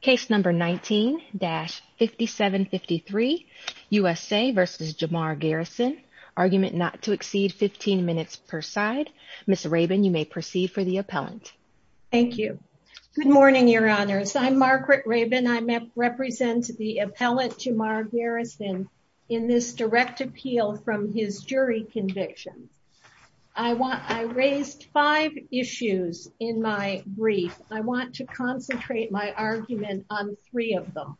Case number 19-5753, USA v. Jamar Garrison, argument not to exceed 15 minutes per side. Ms. Rabin, you may proceed for the appellant. Thank you. Good morning, Your Honors. I'm Margaret Rabin. I represent the appellant Jamar Garrison in this direct appeal from his jury conviction. I raised five issues in my brief. I want to concentrate my argument on three of them.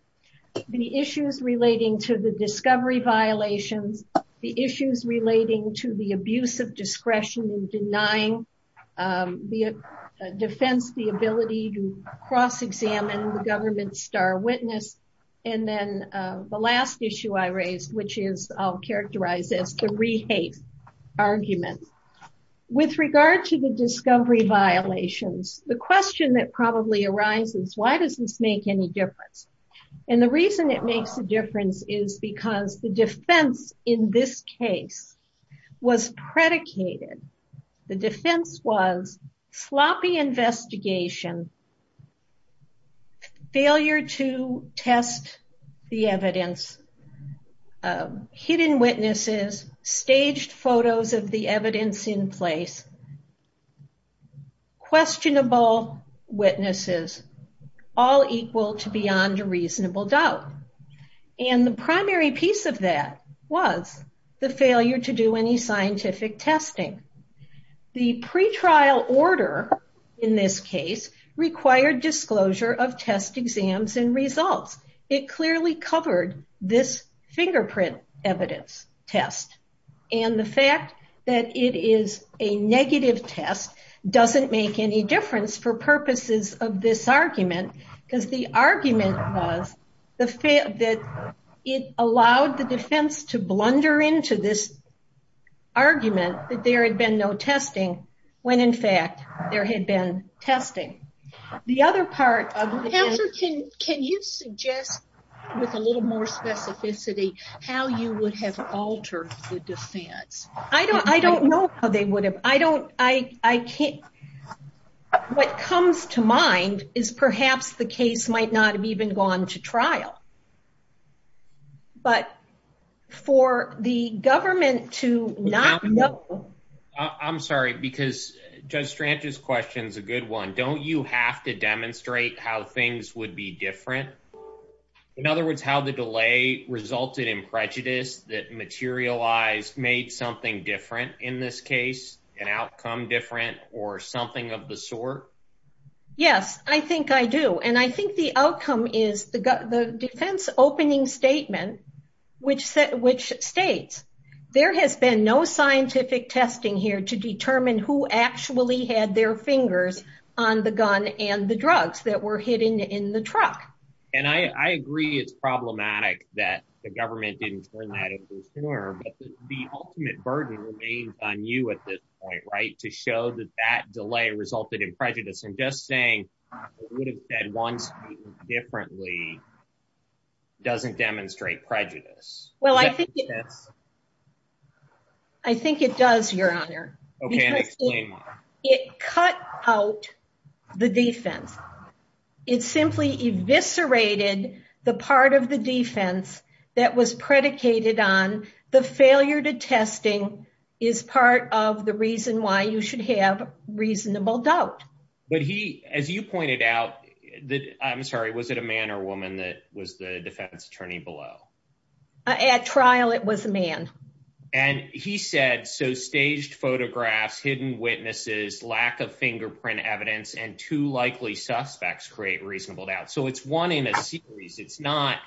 The issues relating to the discovery violations, the issues relating to the abuse of discretion in denying the defense, the ability to cross-examine the government's star witness, and then the last issue I raised, which I'll characterize as the re-hate argument. With regard to the discovery violations, the question that probably arises, why does this make any difference? And the reason it makes a difference is because the defense in this case was predicated, the defense was sloppy investigation, failure to test the evidence, hidden witnesses, staged photos of the evidence in place, questionable witnesses, all equal to beyond a reasonable doubt. And the primary piece of that was the failure to do any scientific testing. The pretrial order in this case required disclosure of test exams and results. It clearly covered this fingerprint evidence test. And the fact that it is a negative test doesn't make any difference for purposes of this argument, because the argument was that it allowed the defense to blunder into this argument that there had been no testing, when in fact there had been testing. The other part of the case... Counselor, can you suggest with a little more specificity how you would have altered the defense? I don't know how they would have. I don't... I can't... What comes to mind is perhaps the case might not have even gone to trial. But for the government to not know... I'm sorry, because Judge Strange's question is a good one. Don't you have to demonstrate how things would be different? In other words, how the delay resulted in prejudice that materialized, made something different in this case, an outcome different, or something of the sort? Yes, I think I do. And I think the outcome is the defense opening statement, which states, there has been no scientific testing here to determine who actually had their fingers on the gun and the drugs that were hidden in the truck. And I agree it's problematic that the government didn't turn that into a score, but the ultimate burden remains on you at this point, right? To show that that delay resulted in prejudice. And just saying it would have been one statement differently doesn't demonstrate prejudice. Well, I think... I think it does, Your Honor. Okay, and explain why. It cut out the defense. It simply eviscerated the part of the defense that was predicated on the failure to testing is part of the reason why you should have reasonable doubt. But he, as you pointed out... I'm sorry, was it a man or woman that was the defense attorney below? At trial, it was a man. And he said, so staged photographs, hidden witnesses, lack of fingerprint evidence, and two likely suspects create reasonable doubt. So it's one in a series. It's not,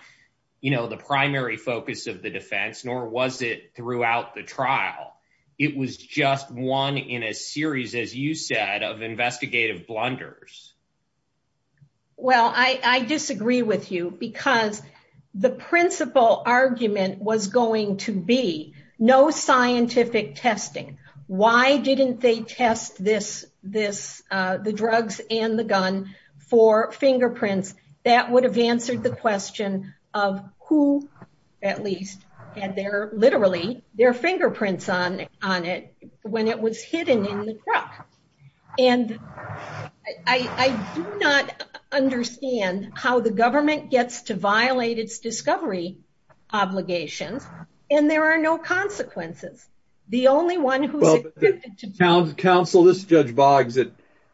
you know, the primary focus of the defense, nor was it throughout the trial. It was just one in a series, as you said, of investigative blunders. Well, I disagree with you because the principal argument was going to be no scientific testing. Why didn't they test this, the drugs and the gun for fingerprints? That would have answered the question of who at least had their, literally, their fingerprints on it when it was hidden in the truck. And I do not understand how the government gets to violate its discovery obligations. And there are no consequences. The only one who's... Counsel, this is Judge Boggs.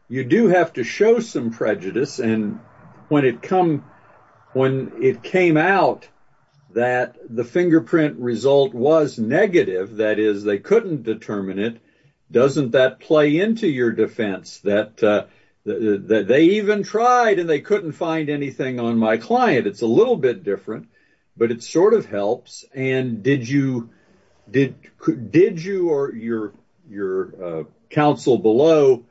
You do have to show some prejudice. And when it came out that the fingerprint result was negative, that is, they couldn't determine it, doesn't that play into your defense that they even tried and they couldn't find anything on my client? It's a little bit different, but it sort of helps. And did you or your counsel below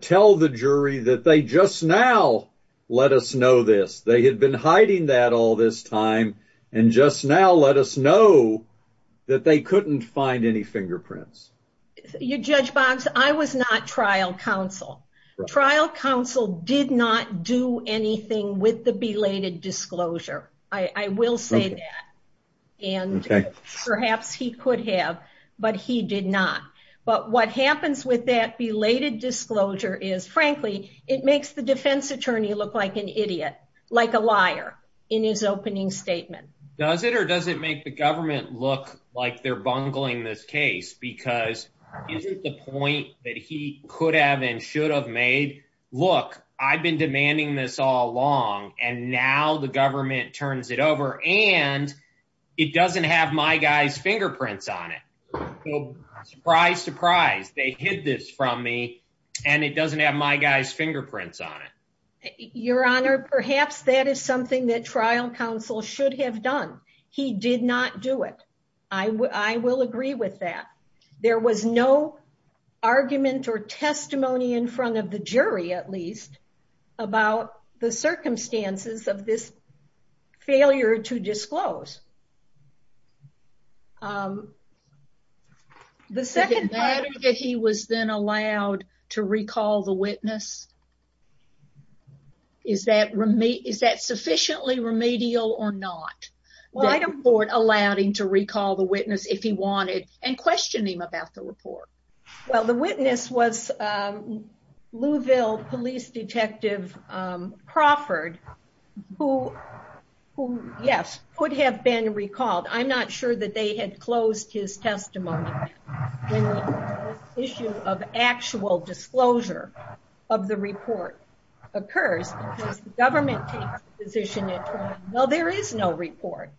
tell the jury that they just now let us know this? They had been hiding that all this time, and just now let us know that they couldn't find any fingerprints. Judge Boggs, I was not trial counsel. Trial counsel did not do anything with the belated disclosure. I will say that. And perhaps he could have, but he did not. But what happens with that belated disclosure is, frankly, it makes the defense attorney look like an idiot, like a liar, in his opening statement. Does it or does it make the government look like they're bungling this case? Because is it the point that he could have and should have made? Look, I've been demanding this all along and now the government turns it over and it doesn't have my guy's fingerprints on it. Surprise, surprise, they hid this from me and it doesn't have my guy's fingerprints on it. Your Honor, perhaps that is something that trial counsel should have done. He did not do it. I will agree with that. There was no argument or testimony in front of the jury, at least, about the circumstances of this failure to disclose. The second part... The matter that he was then allowed to recall the witness, is that sufficiently remedial or not? Well, I don't support allowing him to recall the witness if he wanted and questioning him about the report. Well, the witness was Louisville Police Detective Crawford who, yes, could have been recalled. I'm not sure that they had closed his testimony. When the issue of actual disclosure of the report occurs, because the government takes the position that, well, there is no report,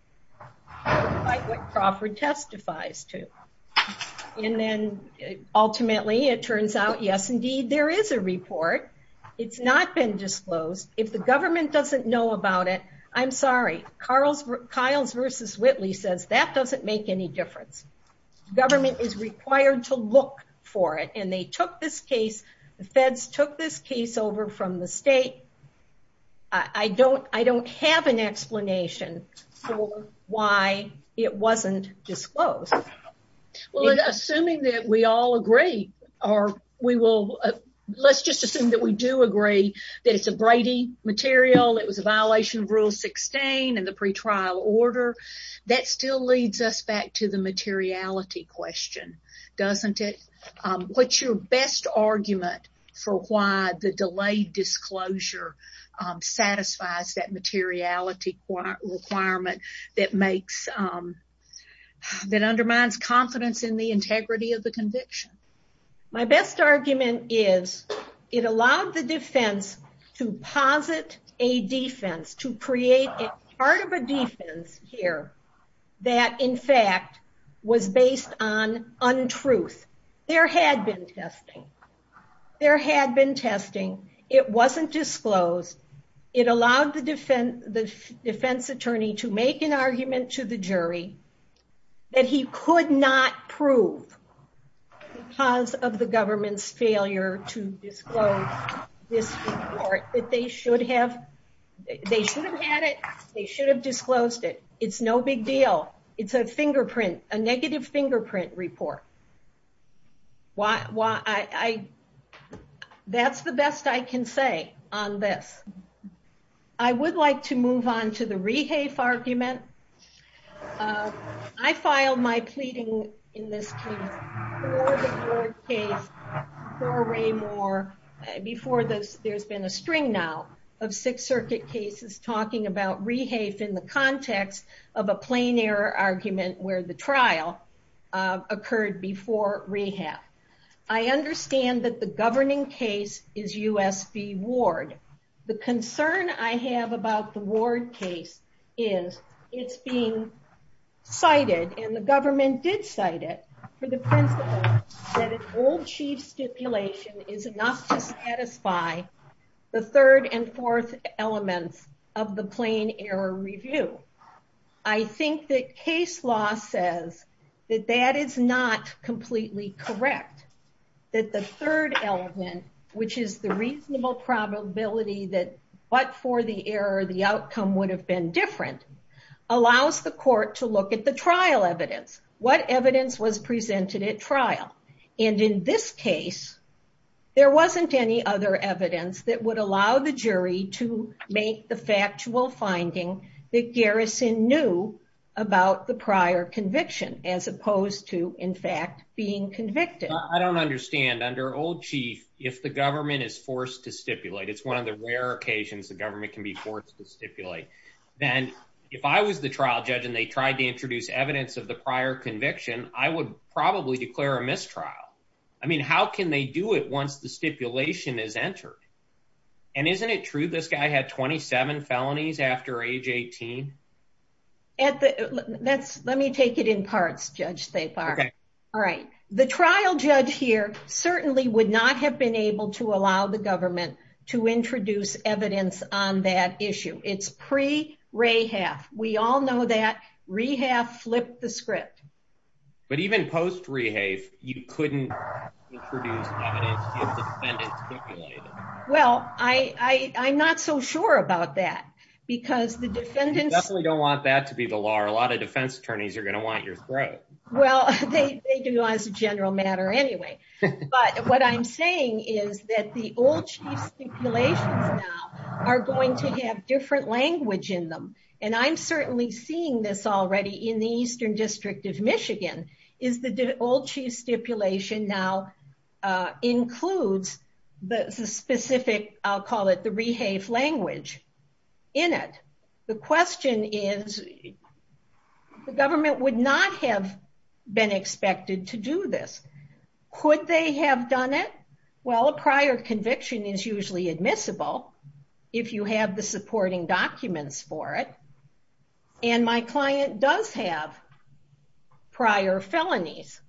despite what Crawford testifies to. And then, ultimately, it turns out, yes, indeed, there is a report. It's not been disclosed. If the government doesn't know about it, I'm sorry. Kyles v. Whitley says that doesn't make any difference. The government is required to look for it. And they took this case. The feds took this case over from the state. I don't have an explanation for why it wasn't disclosed. Well, assuming that we all agree, or we will... Let's just assume that we do agree that it's a Brady material. It was a violation of Rule 16 and the pretrial order. That still leads us back to the materiality question, doesn't it? What's your best argument for why the delayed disclosure satisfies that materiality requirement that undermines confidence in the integrity of the conviction? My best argument is it allowed the defense to posit a defense, to create part of a defense here that, in fact, was based on untruth. There had been testing. There had been testing. It wasn't disclosed. It allowed the defense attorney to make an argument to the jury that he could not prove because of the government's failure to disclose this report, that they should have had it. They should have disclosed it. It's no big deal. It's a fingerprint, a negative fingerprint report. That's the best I can say on this. I would like to move on to the rehafe argument. I filed my pleading in this case before the Ford case, before Raymoor, before there's been a string now of Sixth Circuit cases talking about rehafe in the context of a plain error argument where the trial occurred before rehab. I understand that the governing case is U.S. v. Ward. The concern I have about the Ward case is it's being cited and the government did cite it for the principle that an old chief stipulation is enough to satisfy the third and fourth elements of the plain error review. I think that case law says that that is not completely correct, that the third element, which is the reasonable probability that but for the error, the outcome would have been different, allows the court to look at the trial evidence, what evidence was presented at trial. In this case, there wasn't any other evidence that would allow the jury to make the factual finding that Garrison knew about the prior conviction as opposed to, in fact, being convicted. I don't understand. Under old chief, if the government is forced to stipulate, it's one of the rare occasions the government can be forced to stipulate, then if I was the trial judge and they tried to introduce evidence of the prior conviction, I would probably declare a mistrial. I mean, how can they do it once the stipulation is entered? And isn't it true this guy had 27 felonies after age 18? Let me take it in parts, Judge Thapar. All right. The trial judge here certainly would not have been able to allow the government to introduce evidence on that issue. It's pre-Rehaf. We all know that. Rehaf flipped the script. But even post-Rehaf, you couldn't introduce evidence if the defendant stipulated it. Well, I'm not so sure about that because the defendants... Definitely don't want that to be the law. A lot of defense attorneys are going to want your throat. Well, they do as a general matter anyway. But what I'm saying is that the old chief stipulations now are going to have different language in them. And I'm certainly seeing this already in the Eastern District of Michigan is the old chief stipulation now includes the specific, I'll call it the Rehaf language in it. The question is the government would not have been expected to do this. Could they have done it? Well, a prior conviction is usually admissible if you have the supporting documents for it. And my client does have prior felonies.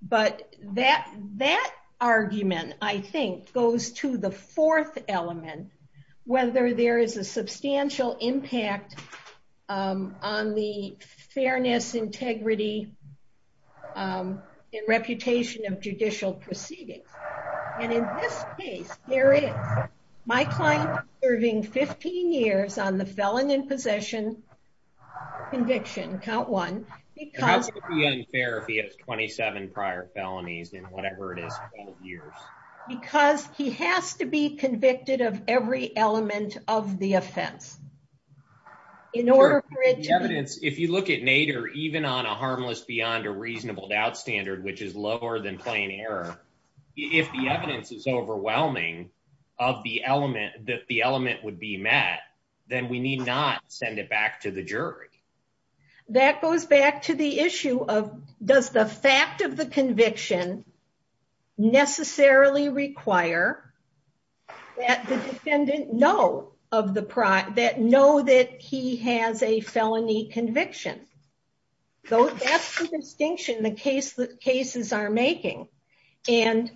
But that argument, I think, goes to the fourth element, whether there is a substantial impact on the fairness, integrity, and reputation of judicial proceedings. And in this case, there is. My client is serving 15 years on the felon in possession conviction, count one, because... It has to be unfair if he has 27 prior felonies in whatever it is, 12 years. Because he has to be convicted of every element of the offense. In order for it to... The evidence, if you look at Nader, even on a harmless beyond a reasonable doubt standard, which is lower than plain error, if the evidence is overwhelming that the element would be met, then we need not send it back to the jury. That goes back to the issue of does the fact of the conviction necessarily require that the defendant know that he has a felony conviction? That's the distinction the cases are making. And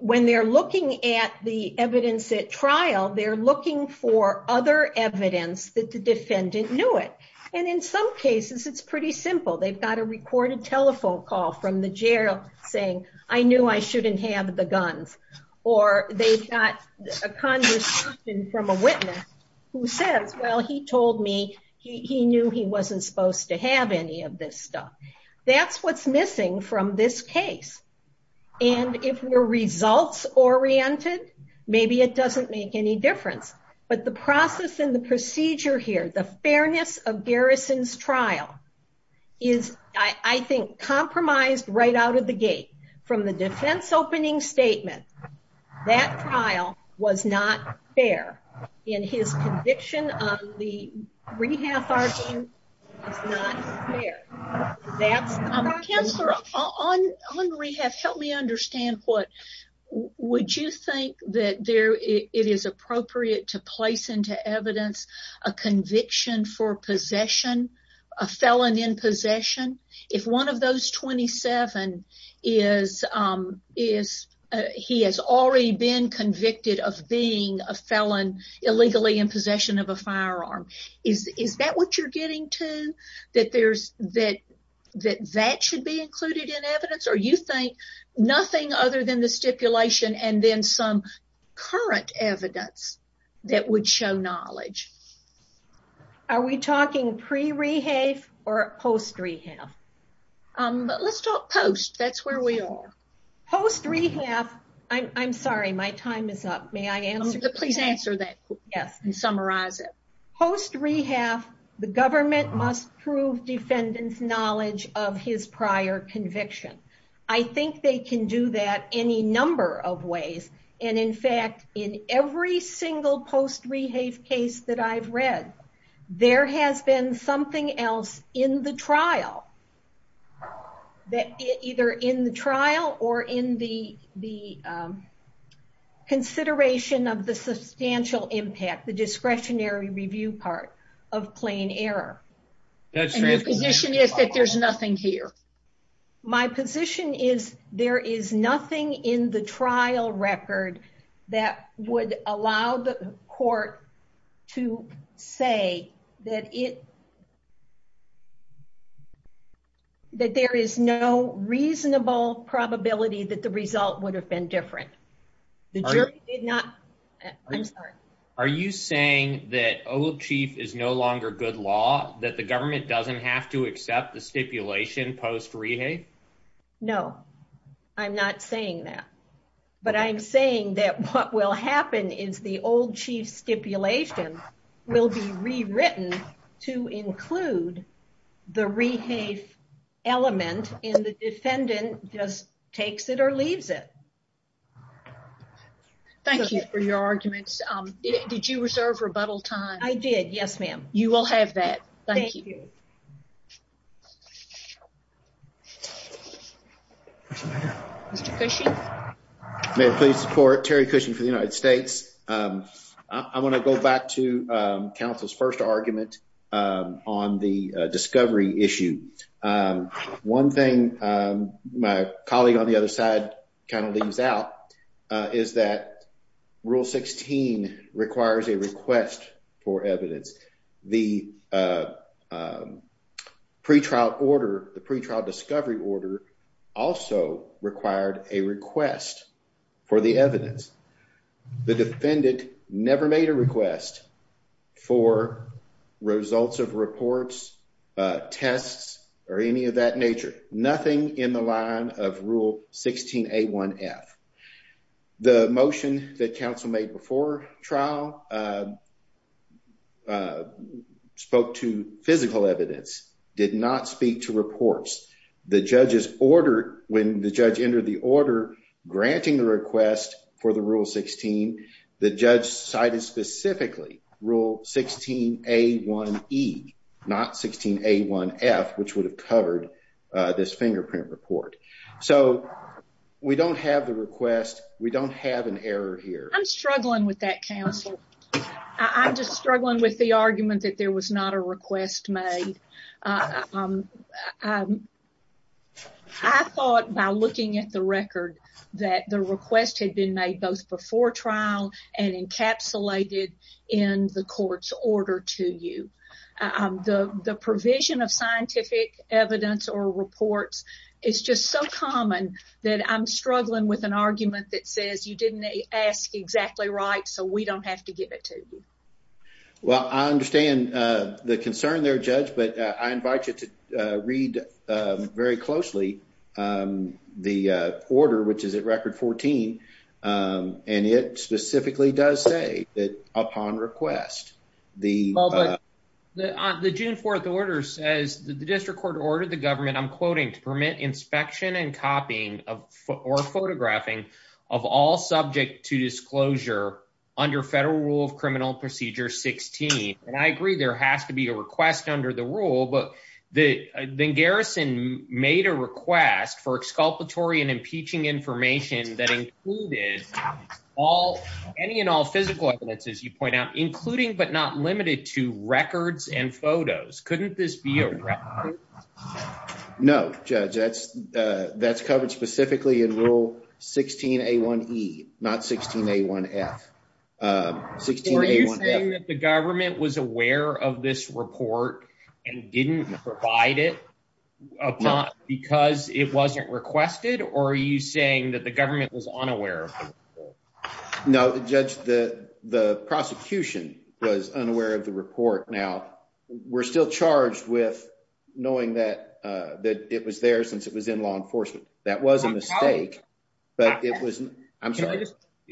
when they're looking at the evidence at trial, they're looking for other evidence that the defendant knew it. And in some cases, it's pretty simple. They've got a recorded telephone call from the jail saying, I knew I shouldn't have the guns. Or they've got a conversation from a witness who says, well, he told me he knew he wasn't supposed to have any of this stuff. That's what's missing from this case. And if we're results-oriented, maybe it doesn't make any difference. But the process and the procedure here, the fairness of Garrison's trial, is, I think, compromised right out of the gate. From the defense opening statement, that trial was not fair. And his conviction on the rehab charges is not fair. Counselor, on rehab, help me understand what... Would you think that it is appropriate to place into evidence a conviction for possession, a felon in possession? If one of those 27 is... He has already been convicted of being a felon illegally in possession of a firearm. Is that what you're getting to? That that should be included in evidence? Or you think nothing other than the stipulation and then some current evidence that would show knowledge? Are we talking pre-rehab or post-rehab? Let's talk post. That's where we are. Post-rehab... I'm sorry, my time is up. May I answer? Please answer that and summarize it. Post-rehab, the government must prove defendant's knowledge of his prior conviction. I think they can do that any number of ways. And in fact, in every single post-rehab case that I've read, there has been something else in the trial. Either in the trial or in the consideration of the substantial impact, the discretionary review part of plain error. And your position is that there's nothing here? My position is there is nothing in the trial record that would allow the court to say that it that there is no reasonable probability that the result would have been different. The jury did not... I'm sorry. Are you saying that old chief is no longer good law? That the government doesn't have to accept the stipulation post-rehab? No, I'm not saying that. But I'm saying that what will happen is the old chief stipulation will be rewritten to include the rehab element and the defendant just takes it or leaves it. Thank you for your arguments. Did you reserve rebuttal time? I did, yes, ma'am. You will have that. Thank you. Mr. Cushing? Mayor, please support Terry Cushing for the United States. I want to go back to counsel's first argument on the discovery issue. One thing my colleague on the other side kind of leaves out is that Rule 16 requires a request for evidence. The pretrial order, the pretrial discovery order also required a request for the evidence. The defendant never made a request for results of reports, tests, or any of that nature. Nothing in the line of Rule 16A1F. The motion that counsel made before trial spoke to physical evidence. Did not speak to reports. When the judge entered the order granting the request for the Rule 16, the judge cited specifically Rule 16A1E, not 16A1F, which would have covered this fingerprint report. We don't have the request. We don't have an error here. I'm struggling with that, counsel. I'm just struggling with the argument that there was not a request made. I thought by looking at the record that the request had been made both before trial and encapsulated in the court's order to you. The provision of scientific evidence or reports is just so common that I'm struggling with an argument that says you didn't ask exactly right so we don't have to give it to you. I understand the concern there, Judge, but I invite you to read very closely the order which is at Record 14 and it specifically does say that upon request the June 4th order says the District Court ordered the government to permit inspection and copying or photographing of all subject to disclosure under Federal Rule of Criminal Procedure 16. I agree there has to be a request under the rule but then Garrison made a request for exculpatory and impeaching information that included any and all physical evidence, as you point out, including but not limited to records and photos. Couldn't this be a record? No, Judge. That's covered specifically in Rule 16A1E not 16A1F. Are you saying that the government was aware of this report and didn't provide it because it wasn't requested or are you saying that the government was unaware? No, Judge. The prosecution was unaware of the report. We're still charged with knowing that it was there since it was in law enforcement. That was a mistake but it was...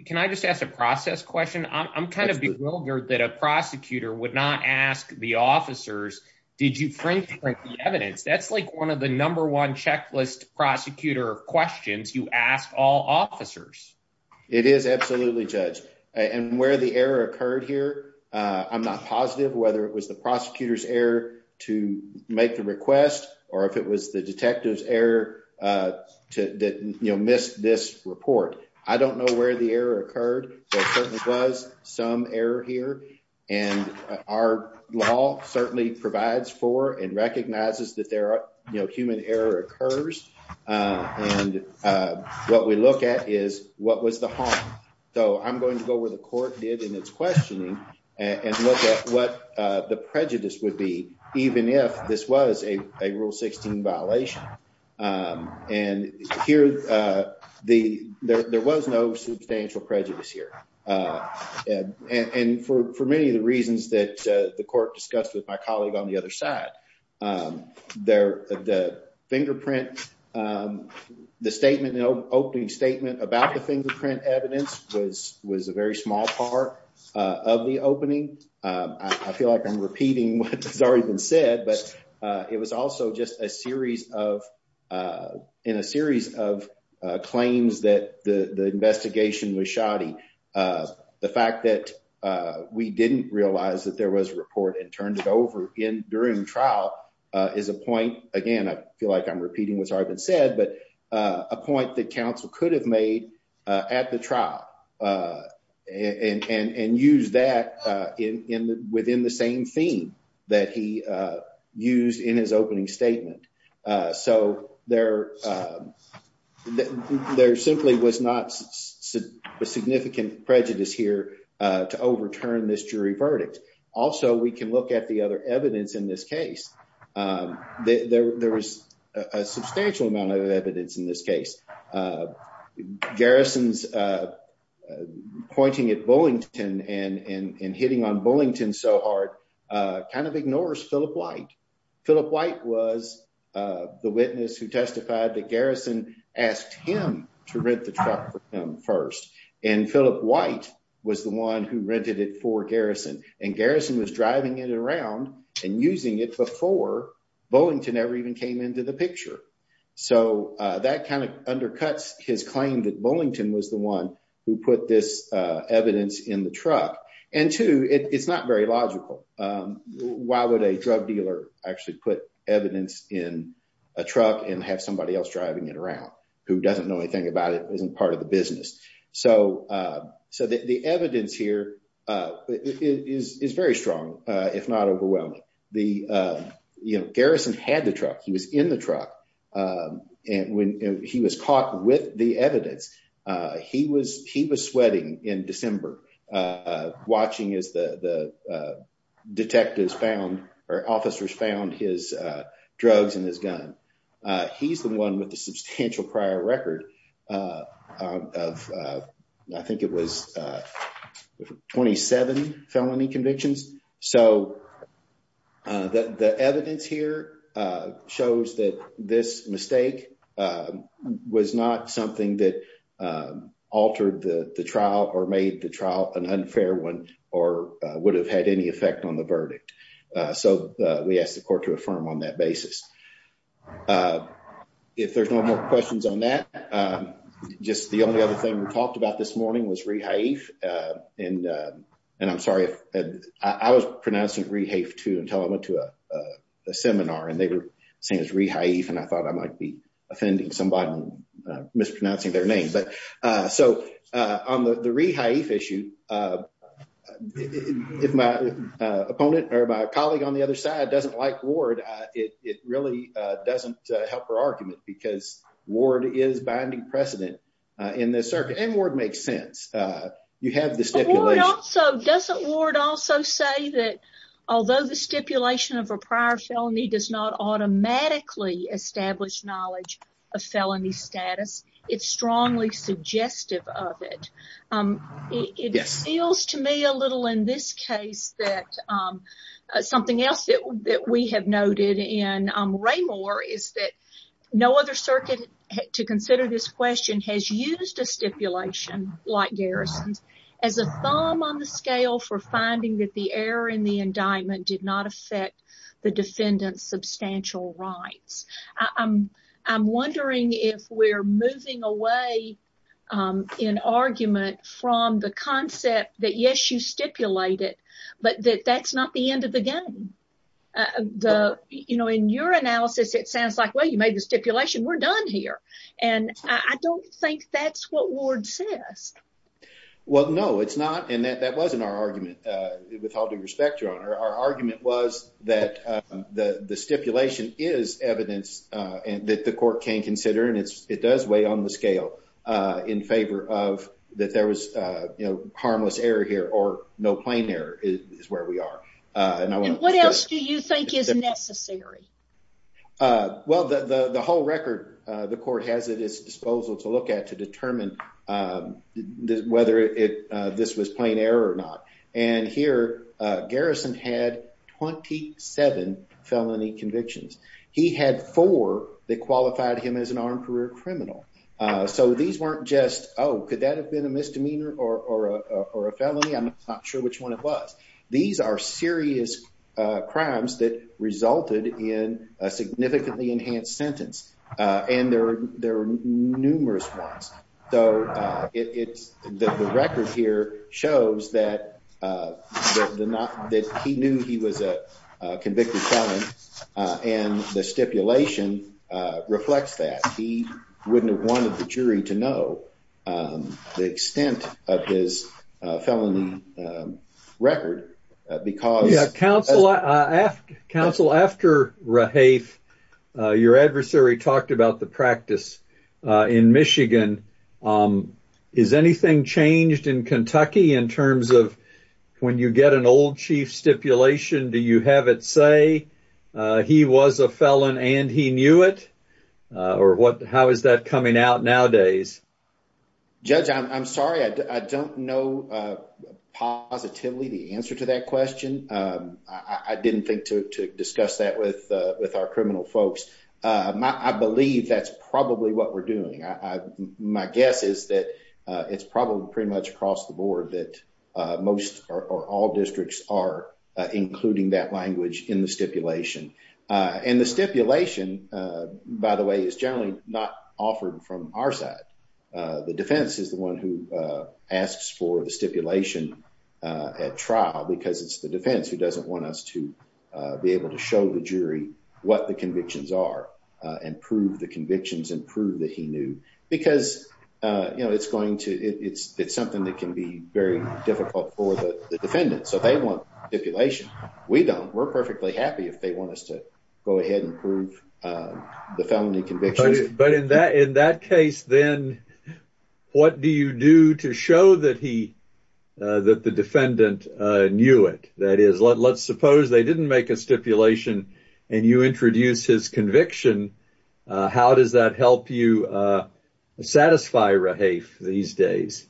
Can I just ask a process question? I'm kind of bewildered that a prosecutor would not ask the officers did you fingerprint the evidence? That's like one of the number one checklist prosecutor questions you ask all officers. It is absolutely, Judge. And where the error occurred here I'm not positive whether it was the prosecutor's error to make the request or if it was the detective's error to miss this report. I don't know where the error occurred. There certainly was some error here and our law certainly provides for and recognizes that human error occurs and what we look at is what was the harm? So I'm going to go where the court did in its questioning and look at what the prejudice would be even if this was a Rule 16 violation and here there was no substantial prejudice here and for many of the reasons that the court discussed with my colleague on the other side the fingerprint the statement, the opening statement about the fingerprint evidence was a very small part of the opening I feel like I'm repeating what has already been said but it was also just a series of in a series of claims that the investigation was shoddy the fact that we didn't realize that there was a report and turned it over during the trial is a point again I feel like I'm repeating what has already been said but a point that counsel could have made at the trial and used that within the same theme that he used in his opening statement so there simply was not a significant prejudice here to overturn this and look at the other evidence in this case there was a substantial amount of evidence in this case Garrison's pointing at Bullington and hitting on Bullington so hard kind of ignores Phillip White was the witness who testified that Garrison asked him to rent the truck first and Phillip White was the one who rented it for and Garrison was driving it around and using it before Bullington ever even came into the picture so that kind of undercuts his claim that Bullington was the one who put this evidence in the truck and two it's not very logical why would a drug dealer actually put evidence in a truck and have somebody else driving it around who doesn't know anything about it isn't part of the business so the evidence here is very strong if not overwhelming Garrison had the truck, he was in the truck and when he was caught with the evidence he was sweating in December watching as the detectives found or officers found his drugs and his gun. He's the one with the substantial prior record of I think it was 27 felony convictions so the evidence here shows that this mistake was not something that altered the trial or made the trial an unfair one or would have had any effect on the verdict so we ask the court to affirm on that basis if there's no more questions on that just the only other thing we talked about this morning was Rehaif and I'm sorry I was pronouncing Rehaif too until I went to a seminar and they were saying it's Rehaif and I thought I might be offending somebody mispronouncing their name so on the Rehaif issue opponent or my colleague on the other side doesn't like Ward it really doesn't help her argument because Ward is binding precedent in this circuit and Ward makes sense doesn't Ward also say that although the stipulation of a prior felony does not automatically establish knowledge of felony status it's strongly suggestive of it it feels to me a little in this case that something else that we have noted in no other circuit to consider this question has used a stipulation like Garrison's as a thumb on the scale for finding that the error in the indictment did not affect the defendant's substantial rights I'm wondering if we're moving away in argument from the concept that yes you stipulate it but that's not the end of the game you know you made the stipulation we're done here and I don't think that's what Ward says well no it's not and that wasn't our argument with all due respect your honor our argument was that the stipulation is evidence that the court can consider and it does weigh on the scale in favor of that there was you know harmless error here or no plain error is where we are what else do you think is necessary well the whole record the court has at its disposal to look at to determine whether this was plain error or not and here Garrison had 27 felony convictions he had 4 that qualified him as an armed career criminal so these weren't just oh could that have been a misdemeanor or a felony I'm not sure which one it was these are serious crimes that resulted in a significantly enhanced sentence and there were numerous ones so it's the record here shows that that he knew he was a convicted felon and the stipulation reflects that he wouldn't have wanted the jury to know the extent of his felony record because counsel after your adversary talked about the practice in Michigan is anything changed in Kentucky in terms of when you get an old chief stipulation do you have it say he was a felon and he knew it or how is that coming out nowadays judge I'm sorry I don't know positively the answer to that question I didn't think to discuss that with our criminal folks I believe that's probably what we're doing my guess is that it's probably pretty much across the board that most or all districts are including that language in the stipulation and the stipulation by the way is generally not offered from our side the defense is the one who asks for the stipulation at trial because it's the defense who doesn't want us to be able to show the jury what the convictions are and prove the convictions and prove that he knew because it's going to it's something that can be very difficult for the defendant so they want stipulation we don't we're perfectly happy if they want us to go ahead and prove the felony convictions in that case then what do you do to show that he that the defendant knew it that is let's suppose they didn't make a stipulation and you introduce his conviction how does that help you satisfy Rahafe these days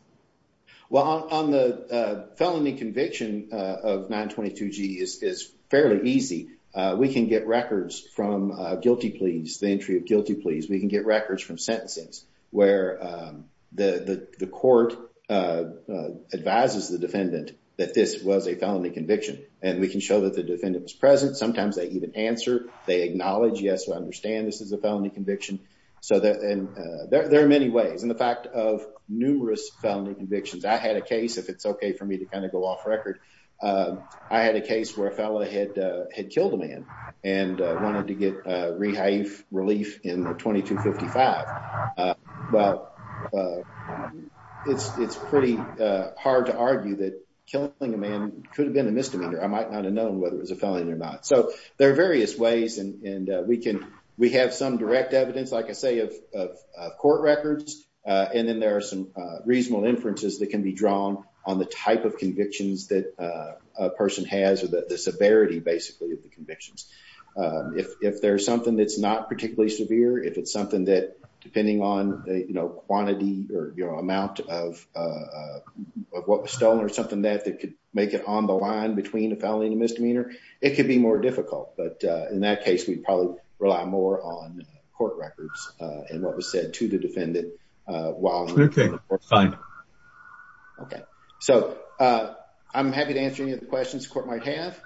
well on the felony conviction of 922g is fairly easy we can get records from guilty pleas the entry of guilty pleas we can get records from sentences where the court advises the defendant that this was a felony conviction and we can show that the defendant was present sometimes they even answer they acknowledge yes I understand this is a felony conviction there are many ways and the fact of numerous felony convictions I had a case if it's ok for me to kind of go off record I had a case where a felon had killed a man and wanted to get Rahafe relief in 2255 well it's pretty hard to argue that killing a man could have been a misdemeanor I might not have known whether it was a felony or not so there are various ways and we can we have some direct evidence like I say of court records and then there are some reasonable inferences that can be drawn on the type of convictions that a person has the severity basically of the convictions if there's something that's not particularly severe if it's something that depending on quantity or amount of what was stolen something that could make it on the line between a felony and a misdemeanor it could be more difficult but in that case we'd probably rely more on court records and what was said to the defendant while ok fine ok so I'm happy to answer any questions the court might have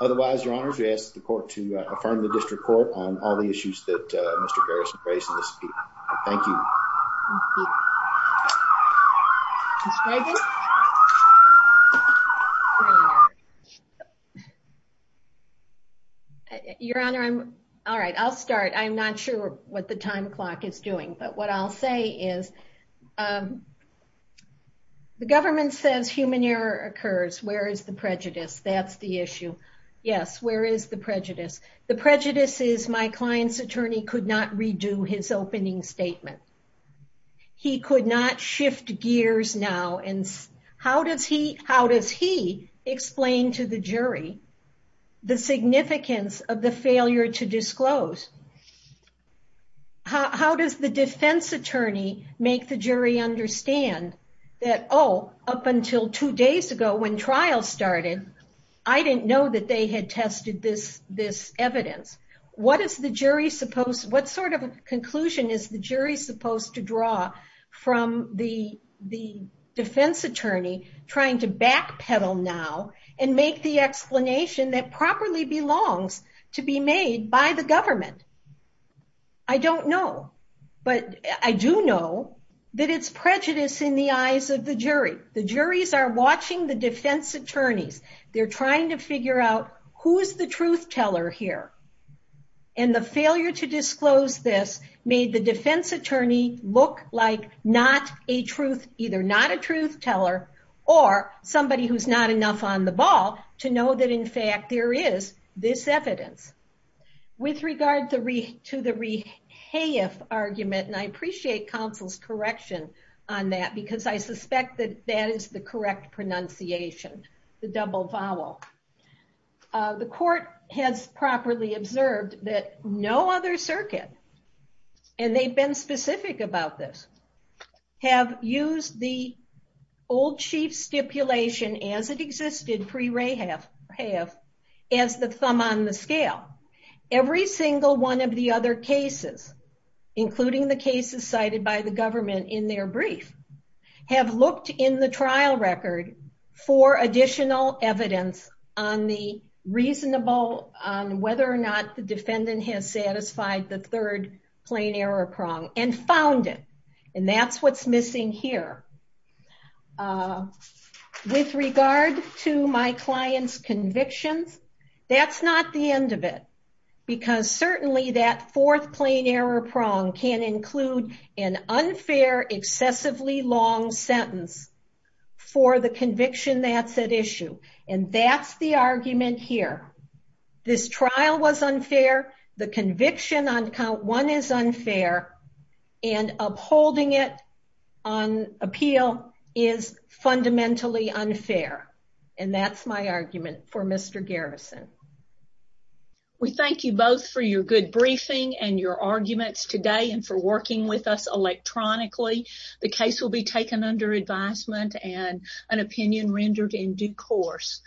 otherwise your honors we ask the court to affirm the district court on all the issues that Mr. Garrison raised in his speech thank you your honor I'm alright I'll start I'm not sure what the time clock is doing but what I'll say is the government says human error occurs where is the prejudice that's the issue yes where is the prejudice the prejudice is my client's attorney could not redo his opening statement he could not shift gears now and how does he explain to the jury the significance of the failure to disclose how does the defense attorney make the jury understand that oh up until two days ago when trial started I didn't know that they had tested this evidence what is the jury supposed what sort of conclusion is the jury supposed to draw from the defense attorney trying to backpedal now and make the explanation that properly belongs I don't know but I do know that it's prejudice in the eyes of the jury the jury's are watching the defense attorneys they're trying to figure out who's the truth teller here and the failure to disclose this made the defense attorney look like not a truth either not a truth teller or somebody who's not enough on the ball to know that in fact there is this evidence with regard to the rehaif argument and I appreciate council's correction on that because I suspect that that is the correct pronunciation the double vowel the court has properly observed that no other circuit and they've been specific about this have used the old chief stipulation as it existed pre rehaif as the thumb on the scale every single one of the other cases including the cases cited by the government in their brief have looked in the trial record for additional evidence on the reasonable on whether or not the defendant has satisfied the third plain error prong and found it and that's what's missing here with regard to my client's convictions that's not the end of it because certainly that fourth plain error prong can include an unfair excessively long sentence for the conviction that's at issue and that's the argument here this trial was unfair the conviction on count one is unfair and upholding it on appeal is fundamentally unfair and that's my argument for Mr. Garrison We thank you both for your good briefing and your arguments today and for working with us electronically the case will be taken under advisement and an opinion rendered in due course